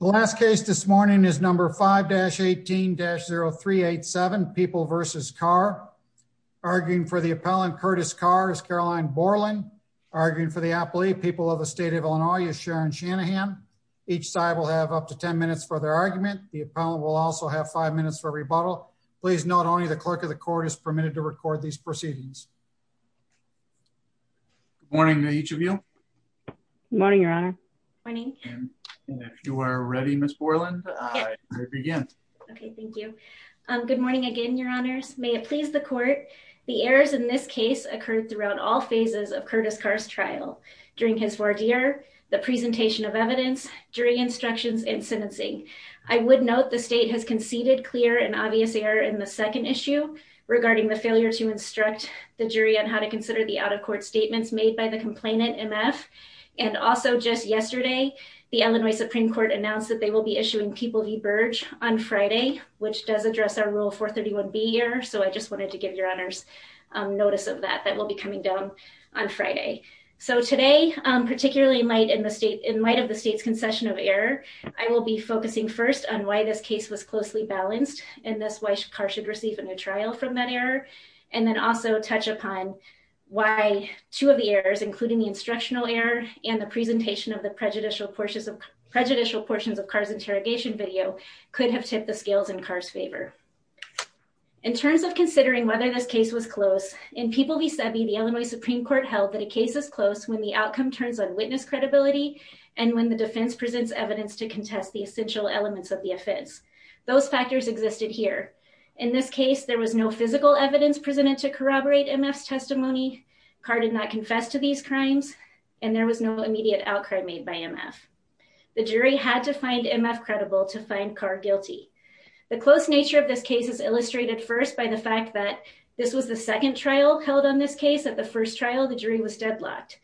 The last case this morning is number 5-18-0387, People v. Carr. Arguing for the appellant, Curtis Carr, is Caroline Borland. Arguing for the appellee, People of the State of Illinois, is Sharon Shanahan. Each side will have up to 10 minutes for their argument. The appellant will also have 5 minutes for a rebuttal. Please note, only the clerk of the court is permitted to record these proceedings. Good morning to each of you. Good morning, Your Honor. Good morning. If you are ready, Ms. Borland, I will begin. Okay, thank you. Good morning again, Your Honors. May it please the court, the errors in this case occurred throughout all phases of Curtis Carr's trial, during his voir dire, the presentation of evidence, jury instructions, and sentencing. I would note the state has conceded clear and obvious error in the second issue regarding the failure to instruct the jury on how to consider the out-of-court statements made by the complainant, M.F., and also just yesterday, the Illinois Supreme Court announced that they will be issuing People v. Burge on Friday, which does address our Rule 431B error, so I just wanted to give Your Honors notice of that. That will be coming down on Friday. So today, particularly in light of the state's concession of error, I will be focusing first on why this case was closely balanced, and thus why Carr should receive a new trial from that error, and then also touch upon why two of the errors, including the instructional error and the presentation of the prejudicial portions of, prejudicial portions of Carr's interrogation video, could have tipped the scales in Carr's favor. In terms of considering whether this case was close, in People v. Sebi, the Illinois Supreme Court held that a case is close when the outcome turns on witness credibility and when the defense presents evidence to contest the essential elements of the offense. Those factors existed here. In this case, there was no physical evidence presented to corroborate MF's testimony. Carr did not confess to these crimes, and there was no immediate outcry made by MF. The jury had to find MF credible to find Carr guilty. The close nature of this case is illustrated first by the fact that this was the second trial held on this case. At the first trial, the jury was deadlocked.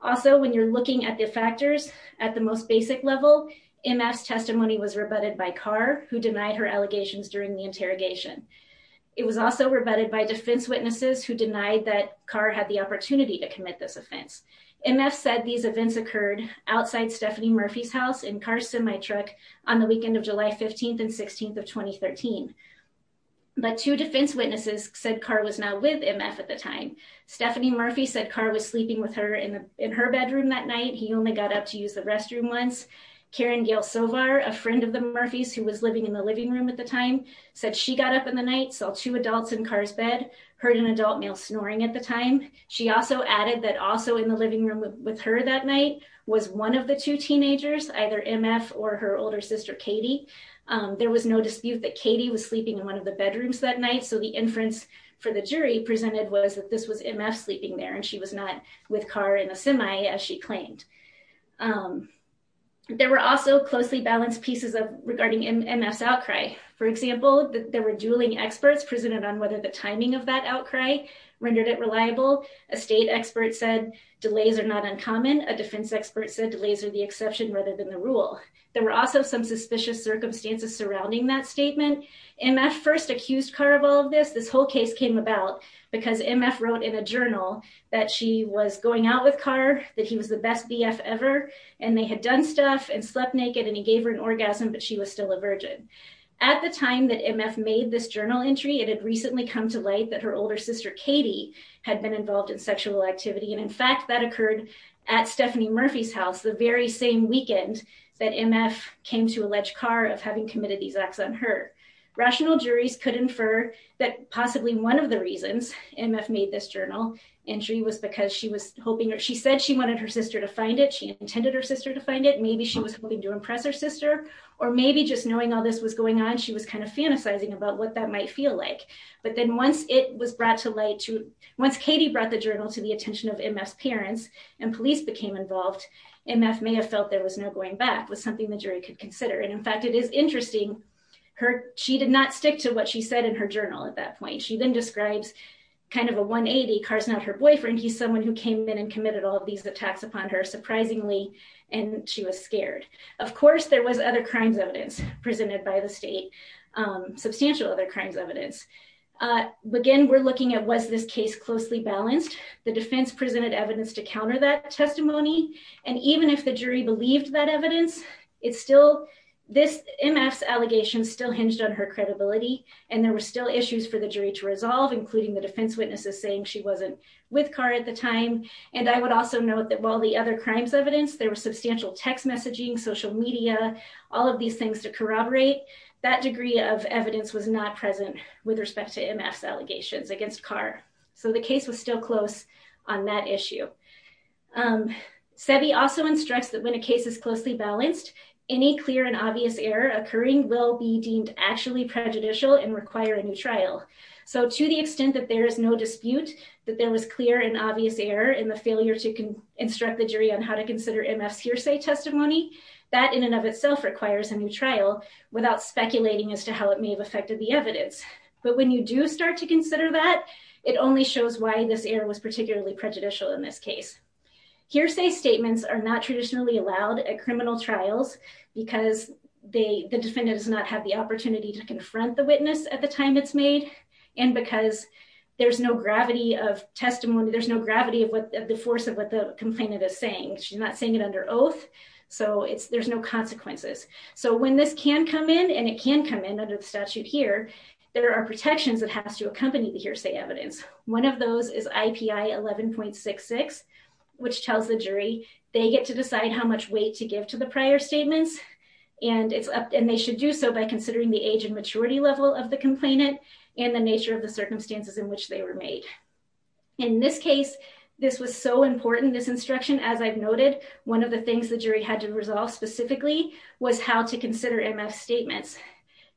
Also, when you're looking at the factors at the most basic level, MF's testimony was rebutted by Carr, who denied her allegations during the interrogation. It was also rebutted by defense witnesses who denied that Carr had the opportunity to commit this offense. MF said these events occurred outside Stephanie Murphy's house in Carr's semi-truck on the weekend of July 15th and 16th of 2013. But two defense witnesses said Carr was not with MF at the time. Stephanie Murphy said Carr was sleeping with her in her bedroom that night. He only got up to use the restroom once. Karen Gail Sovar, a friend of the Murphy's who was living in the night, saw two adults in Carr's bed, heard an adult male snoring at the time. She also added that also in the living room with her that night was one of the two teenagers, either MF or her older sister Katie. There was no dispute that Katie was sleeping in one of the bedrooms that night. So the inference for the jury presented was that this was MF sleeping there and she was not with Carr in a semi as she claimed. There were also closely balanced pieces of regarding MF's presented on whether the timing of that outcry rendered it reliable. A state expert said delays are not uncommon. A defense expert said delays are the exception rather than the rule. There were also some suspicious circumstances surrounding that statement. MF first accused Carr of all of this. This whole case came about because MF wrote in a journal that she was going out with Carr, that he was the best BF ever, and they had done stuff and slept naked and he gave her an orgasm, but she was still a virgin. At the time that MF made this journal entry, it had recently come to light that her older sister Katie had been involved in sexual activity. And in fact, that occurred at Stephanie Murphy's house the very same weekend that MF came to allege Carr of having committed these acts on her. Rational juries could infer that possibly one of the reasons MF made this journal entry was because she was hoping or she said she wanted her sister to find it. She intended her sister to find it. Maybe she was hoping to impress her sister or maybe just knowing all this was going on, she was kind of fantasizing about what that might feel like. But then once it was brought to light, once Katie brought the journal to the attention of MF's parents and police became involved, MF may have felt there was no going back, was something the jury could consider. And in fact, it is interesting, she did not stick to what she said in her journal at that point. She then describes kind of a 180, Carr's not her boyfriend, he's someone who came in and committed all of these attacks upon her, surprisingly, and she was scared. Of course, there was other crimes evidence presented by the state, substantial other crimes evidence. Again, we're looking at was this case closely balanced, the defense presented evidence to counter that testimony. And even if the jury believed that evidence, it's still this MF's allegations still hinged on her credibility. And there were still issues for the jury to resolve, including the defense witnesses saying she wasn't with Carr at the time. And I would also note that the other crimes evidence, there was substantial text messaging, social media, all of these things to corroborate, that degree of evidence was not present with respect to MF's allegations against Carr. So the case was still close on that issue. Sebi also instructs that when a case is closely balanced, any clear and obvious error occurring will be deemed actually prejudicial and require a new trial. So to the extent that there is no dispute, that there was clear and obvious error in the failure to instruct the jury on how to consider MF's hearsay testimony, that in and of itself requires a new trial without speculating as to how it may have affected the evidence. But when you do start to consider that, it only shows why this error was particularly prejudicial in this case. Hearsay statements are not traditionally allowed at criminal trials, because the defendant does not have the opportunity to confront the witness at the time it's made. And because there's no gravity of testimony, there's no gravity of what the force of what the complainant is saying. She's not saying it under oath. So there's no consequences. So when this can come in, and it can come in under the statute here, there are protections that has to accompany the hearsay evidence. One of those is IPI 11.66, which tells the jury they get to decide how much weight to give to the prior statements. And they should do so by considering the age and the nature of the circumstances in which they were made. In this case, this was so important, this instruction, as I've noted, one of the things the jury had to resolve specifically was how to consider MF's statements.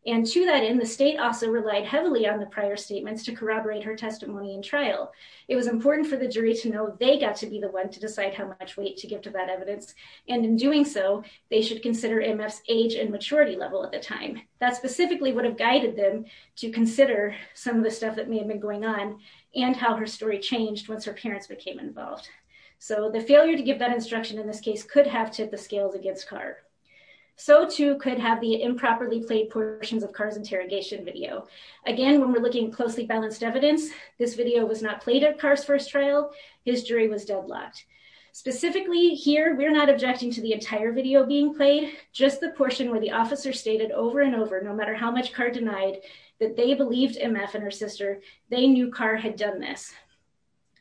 And to that end, the state also relied heavily on the prior statements to corroborate her testimony in trial. It was important for the jury to know they got to be the one to decide how much weight to give to that evidence. And in doing so, they should consider MF's age and maturity level at the time. That specifically would have guided them to consider some of the stuff that may have been going on and how her story changed once her parents became involved. So the failure to give that instruction in this case could have tipped the scales against Carr. So too could have the improperly played portions of Carr's interrogation video. Again, when we're looking at closely balanced evidence, this video was not played at Carr's first trial. His jury was deadlocked. Specifically here, we're not objecting to the entire video being played, just the portion where the officer stated over and over, no matter how much Carr denied, that they believed MF and her sister. They knew Carr had done this.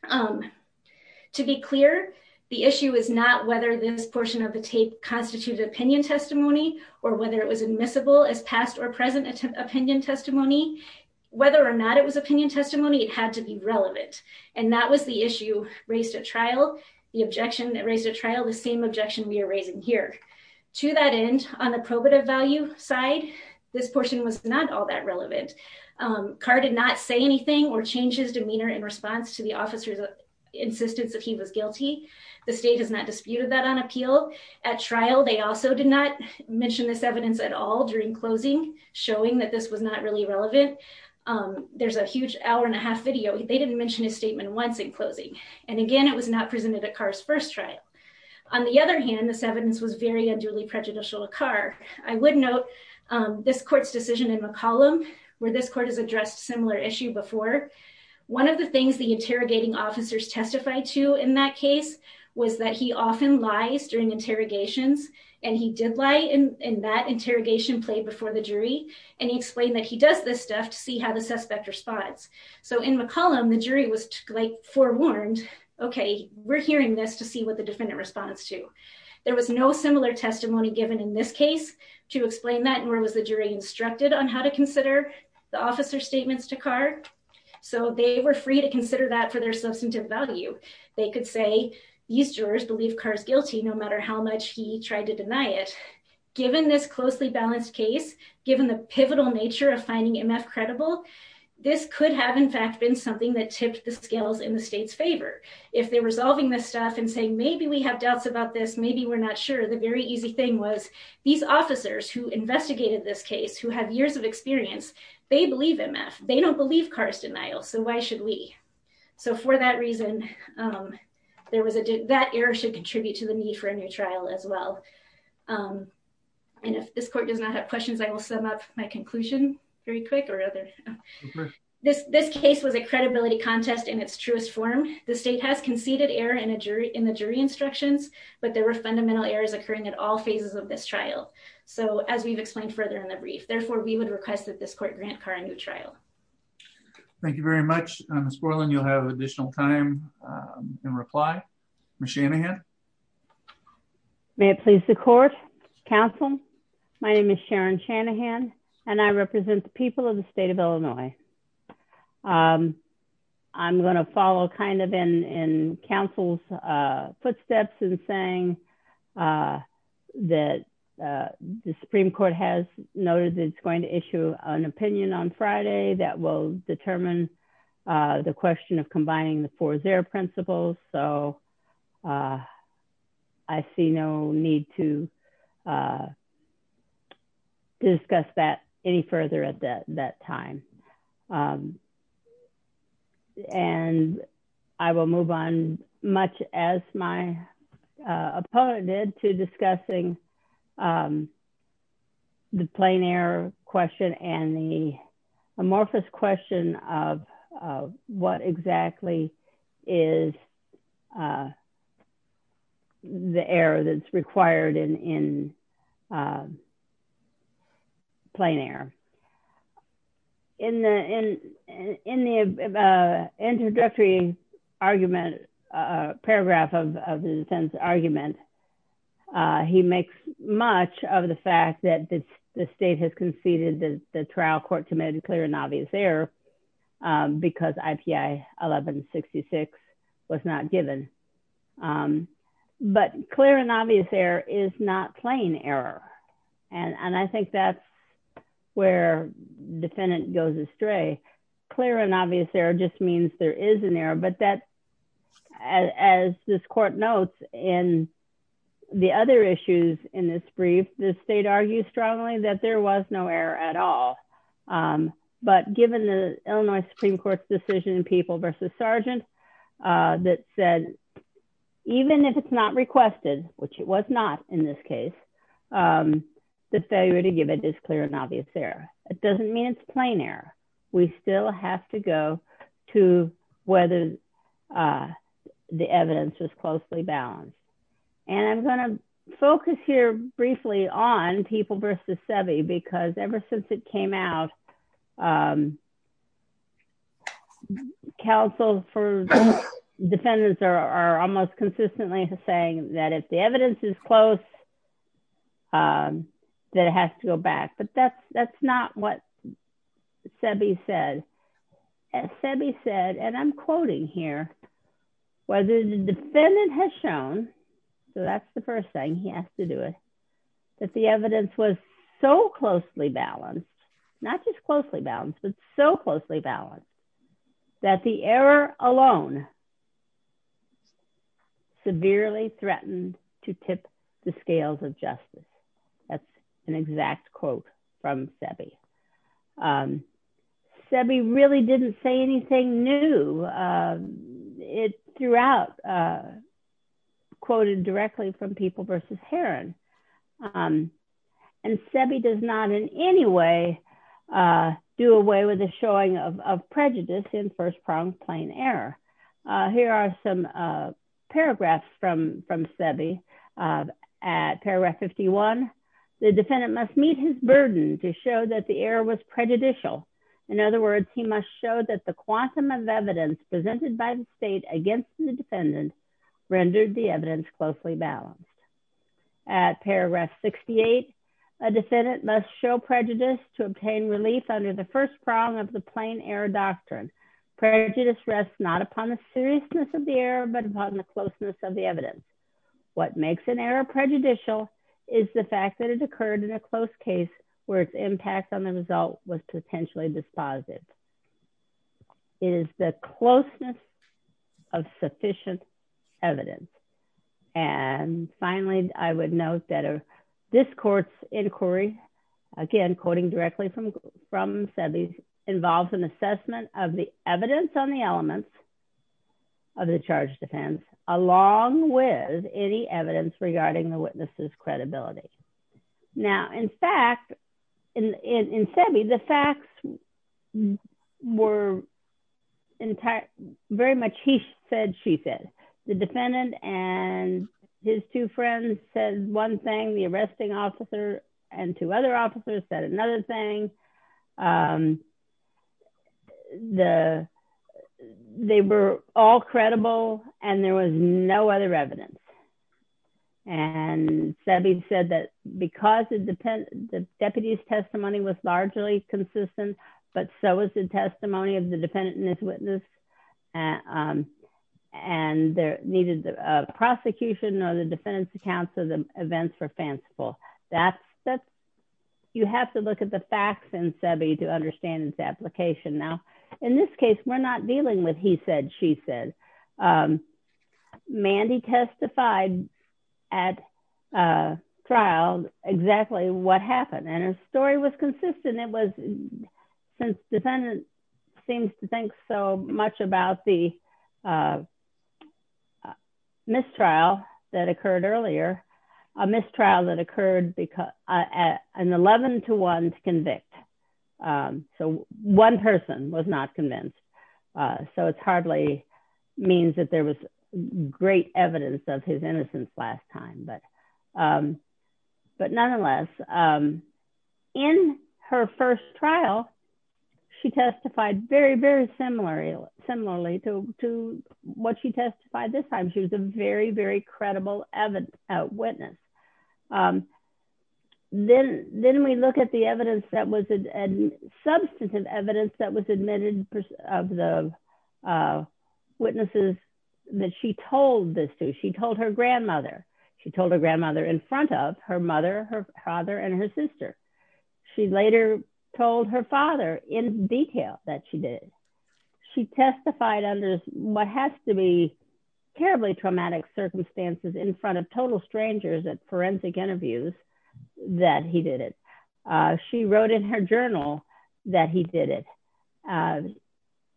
To be clear, the issue is not whether this portion of the tape constituted opinion testimony or whether it was admissible as past or present opinion testimony. Whether or not it was opinion testimony, it had to be relevant. And that was the issue raised at trial, the objection that raised at trial, the same objection we are raising here. To that end, on the probative value side, this portion was not all that relevant. Carr did not say anything or change his demeanor in response to the officer's insistence that he was guilty. The state has not disputed that on appeal. At trial, they also did not mention this evidence at all during closing, showing that this was not really relevant. There's a huge hour and a half video. They didn't mention his statement once in closing. And again, it was not presented at Carr's first trial. On the other hand, this evidence was very prejudicial to Carr. I would note this court's decision in McCollum, where this court has addressed a similar issue before, one of the things the interrogating officers testified to in that case was that he often lies during interrogations. And he did lie in that interrogation played before the jury. And he explained that he does this stuff to see how the suspect responds. So in McCollum, the jury was like forewarned, okay, we're hearing this to see what the defendant responds to. There was no similar testimony given in this case to explain that nor was the jury instructed on how to consider the officer statements to Carr. So they were free to consider that for their substantive value. They could say, these jurors believe Carr's guilty, no matter how much he tried to deny it. Given this closely balanced case, given the pivotal nature of finding MF credible, this could have in fact been something that tipped the scales in the state's saying, maybe we have doubts about this. Maybe we're not sure. The very easy thing was these officers who investigated this case, who have years of experience, they believe MF, they don't believe Carr's denial. So why should we? So for that reason, there was a, that error should contribute to the need for a new trial as well. And if this court does not have questions, I will sum up my conclusion very quick or rather this, this case was a credibility contest in its truest form. The state has conceded error in the jury instructions, but there were fundamental errors occurring at all phases of this trial. So as we've explained further in the brief, therefore we would request that this court grant Carr a new trial. Thank you very much, Ms. Borland. You'll have additional time in reply. Ms. Shanahan. May it please the court, counsel. My name is Sharon Shanahan and I represent the people of the state of Illinois. I'm going to follow kind of in, in counsel's footsteps and saying that the Supreme Court has noted that it's going to issue an opinion on Friday that will determine the question of any further at that time. And I will move on much as my opponent did to discussing the plain air question and the amorphous question of what exactly is the error that's required in, in plain air in the, in, in the introductory argument, paragraph of the defense argument. He makes much of the fact that the state has conceded that the trial court committed clear obvious error because IPA 1166 was not given. But clear and obvious there is not plain error. And, and I think that's where defendant goes astray, clear and obvious there just means there is an error, but that as this court notes in the other issues in this brief, the state argued strongly that there was no error at all. But given the Illinois Supreme Court's decision in people versus Sergeant that said, even if it's not requested, which it was not in this case, the failure to give it is clear and obvious there. It doesn't mean it's plain air. We still have to go to whether the evidence is closely balanced. And I'm going to focus here on people versus Sebi because ever since it came out, counsel for defendants are almost consistently saying that if the evidence is close, that has to go back. But that's, that's not what Sebi said. And Sebi said, and I'm quoting here, whether the defendant has shown, so that's the first thing he has to do it, that the evidence was so closely balanced, not just closely balanced, but so closely balanced, that the error alone severely threatened to tip the scales of justice. That's an exact quote from Sebi really didn't say anything new. It throughout quoted directly from people versus Heron. And Sebi does not in any way do away with the showing of prejudice in first pronged plain error. Here are some paragraphs from from Sebi at paragraph 51, the defendant must meet his burden to show that the error was prejudicial. In other words, he must show that the quantum of evidence presented by the state against the defendant rendered the evidence closely balanced. At paragraph 68, a defendant must show prejudice to obtain relief under the first prong of the plain error doctrine. Prejudice rests not upon the seriousness of the error, but upon the closeness of the evidence. What makes an error prejudicial is the fact that it occurred in a close case, where its impact on the result was potentially dispositive. It is the closeness of sufficient evidence. And finally, I would note that this court's inquiry, again, quoting directly from from Sebi's involves an assessment of the evidence on the elements of the charge defense, along with any evidence regarding the witnesses credibility. Now, in fact, in Sebi, the facts were, in fact, very much he said, she said, the defendant and his two friends said one thing, the arresting officer and two other officers said another thing. They were all credible, and there was no other evidence. And Sebi said that because the deputy's testimony was largely consistent, but so was the testimony of the defendant and his witness. And there needed the prosecution or the defendant's accounts of the events were fanciful. That's, that's, you have to look at the facts and Sebi to understand its application. Now, in this case, we're not dealing with he said, she said, Mandy testified at trial exactly what happened and his story was consistent. It was since defendant seems to think so much about the mistrial that occurred earlier, a mistrial that occurred because at an 11 to one to convict. So one person was not convinced. So it's hardly means that there was great evidence of his innocence last time but but nonetheless, in her first trial, she testified very, very similarly, similarly to what she testified this time, she was a very, very credible evidence out witness. Then, then we look at the evidence that was a substantive evidence that was admitted of the witnesses that she told this to she told her grandmother, she told her grandmother in front of her mother, her father and her sister. She later told her father in detail that she did. She testified under what has to be terribly traumatic circumstances in front of total strangers at forensic interviews, that he did it. She wrote in her journal that he did it.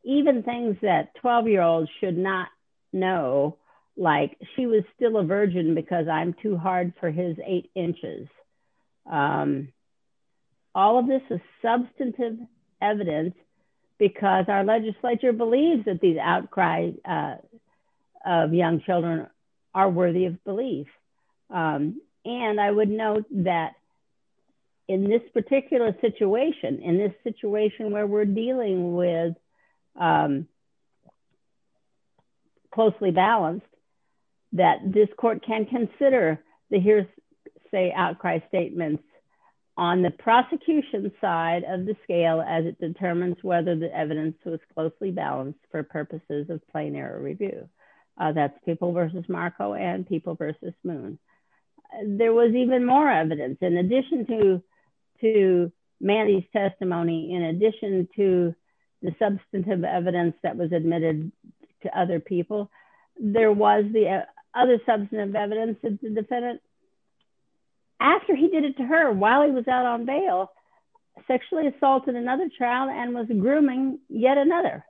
Even things that 12 year olds should not know, like she was still a virgin because I'm too hard for his eight inches. All of this is substantive evidence, because our legislature believes that these outcry of young children are worthy of belief. And I would note that in this particular situation in this situation where we're dealing with closely balanced, that this court can consider the hearsay outcry statements on the prosecution side of the scale as it determines whether the evidence was closely balanced for purposes of plain error review. That's people versus Marco and people versus moon. There was even more evidence in addition to to Mandy's testimony. In addition to the substantive evidence that was admitted to other people, there was the other substantive evidence that the defendant, after he did it to her while he was out on bail, sexually assaulted another child and was grooming yet another.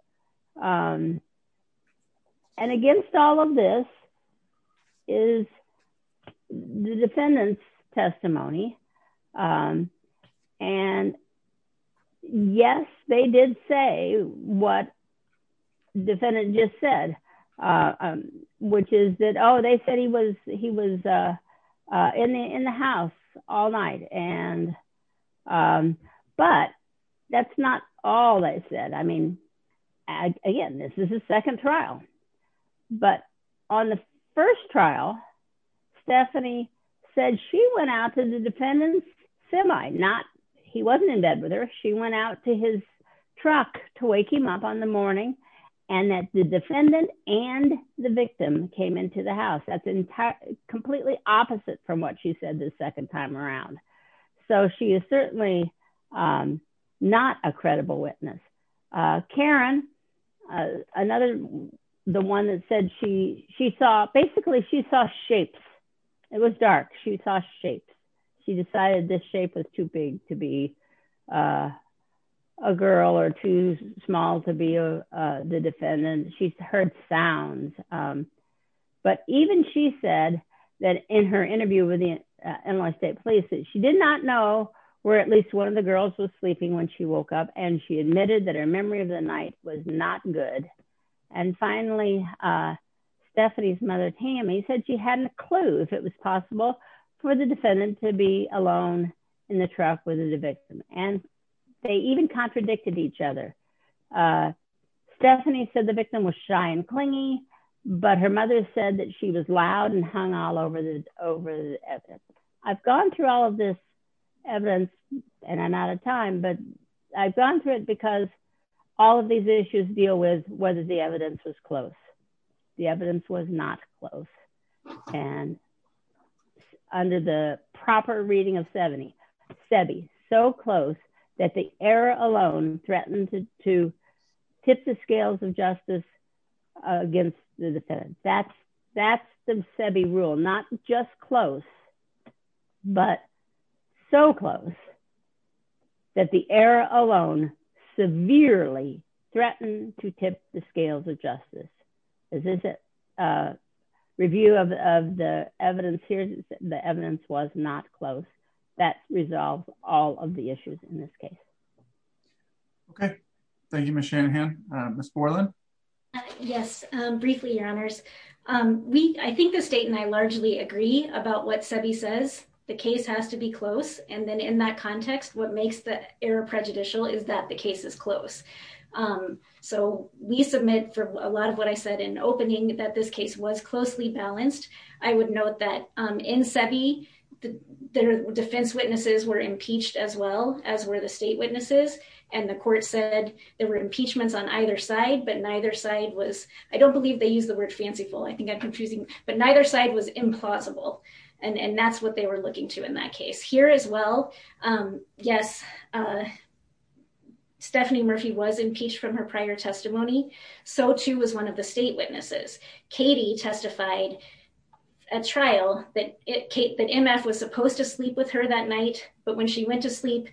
And against all of this is the defendant's testimony. And yes, they did say what defendant just said, which is that, oh, they said he was he was in the house all night. And but that's not all they said. I mean, again, this is a second trial. But on the first trial, Stephanie said she went out to the defendant's semi not he wasn't in bed with her. She went out to his truck to wake him up on the morning and that the defendant and the victim came into the house. That's completely opposite from what she said the second time around. So she is certainly not a credible witness. Karen, another the one that said she she saw basically she saw shapes. It was dark. She saw shapes. She decided this shape was too big to be a girl or too small to be the defendant. She heard sounds. But even she said that in her interview with the NY State Police that she did not know where at least one of the girls was sleeping when she woke up and she admitted that her memory of the night was not good. And finally, Stephanie's mother, Tammy, said she hadn't a clue if it was possible for the defendant to be alone in the truck with the victim. And they even contradicted each other. Stephanie said the victim was shy and clingy, but her mother said that she was loud and hung all over the over. I've gone through all of this evidence and I'm out of time, but I've gone through because all of these issues deal with whether the evidence was close. The evidence was not close. And under the proper reading of 70, so close that the error alone threatened to tip the scales of justice against the defendant. That's that's the rule, not just close, but so close that the error alone severely threatened to tip the scales of justice. This is a review of the evidence here. The evidence was not close. That resolves all of the issues in this case. Okay. Thank you, Ms. Shanahan. Ms. Borland? Yes. Briefly, your honors. I think the state and I largely agree about what Sebi says. The case has to be close. And then in that context, what makes the error prejudicial is that the case is close. So we submit for a lot of what I said in opening that this case was closely balanced. I would note that in Sebi, the defense witnesses were impeached as well, as were the state witnesses. And the court said there were impeachments on either side, but neither side was, I don't believe they use the word fanciful. I think I'm confusing, but neither side was implausible. And that's what they were looking to in that case here as well. Yes. Stephanie Murphy was impeached from her prior testimony. So too was one of the state witnesses. Katie testified at trial that MF was supposed to sleep with her that night, but when she went to sleep,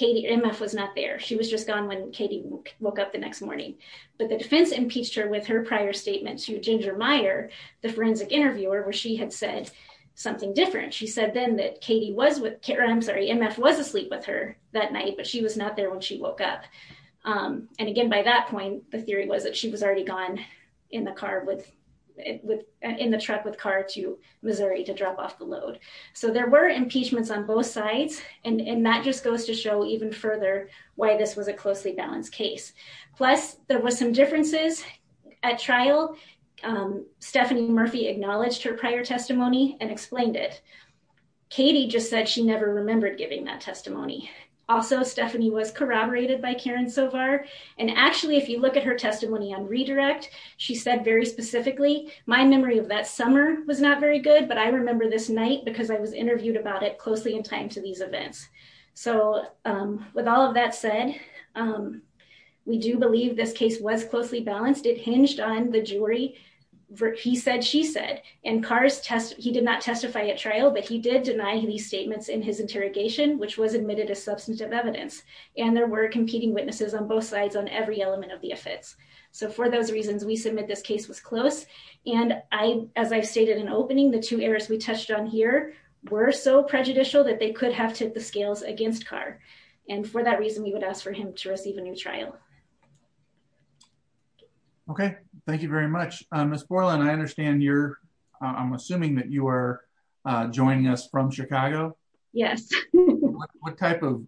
MF was not there. She was just gone when Katie woke up the next morning. But the defense impeached her with her prior statement to Ginger Meyer, the forensic interviewer, she had said something different. She said then that Katie was with, I'm sorry, MF was asleep with her that night, but she was not there when she woke up. And again, by that point, the theory was that she was already gone in the car with, in the truck with car to Missouri to drop off the load. So there were impeachments on both sides. And that just goes to show even further why this was a closely balanced case. Plus there was some differences at trial. Stephanie Murphy acknowledged her prior testimony and explained it. Katie just said she never remembered giving that testimony. Also, Stephanie was corroborated by Karen Sovar. And actually, if you look at her testimony on redirect, she said very specifically, my memory of that summer was not very good, but I remember this night because I was interviewed about it closely in time to these events. So with all of that said, we do believe this case was closely balanced. It hinged on the jury. He said, she said, and cars test. He did not testify at trial, but he did deny these statements in his interrogation, which was admitted as substantive evidence. And there were competing witnesses on both sides on every element of the offense. So for those reasons, we submit this case was close. And I, as I've stated in opening, the two errors we touched on here were so prejudicial that they could have to the scales against car. And for that reason, we would ask for him to receive a new trial. Okay, thank you very much. Miss Portland. I understand you're I'm assuming that you are joining us from Chicago. Yes. What type of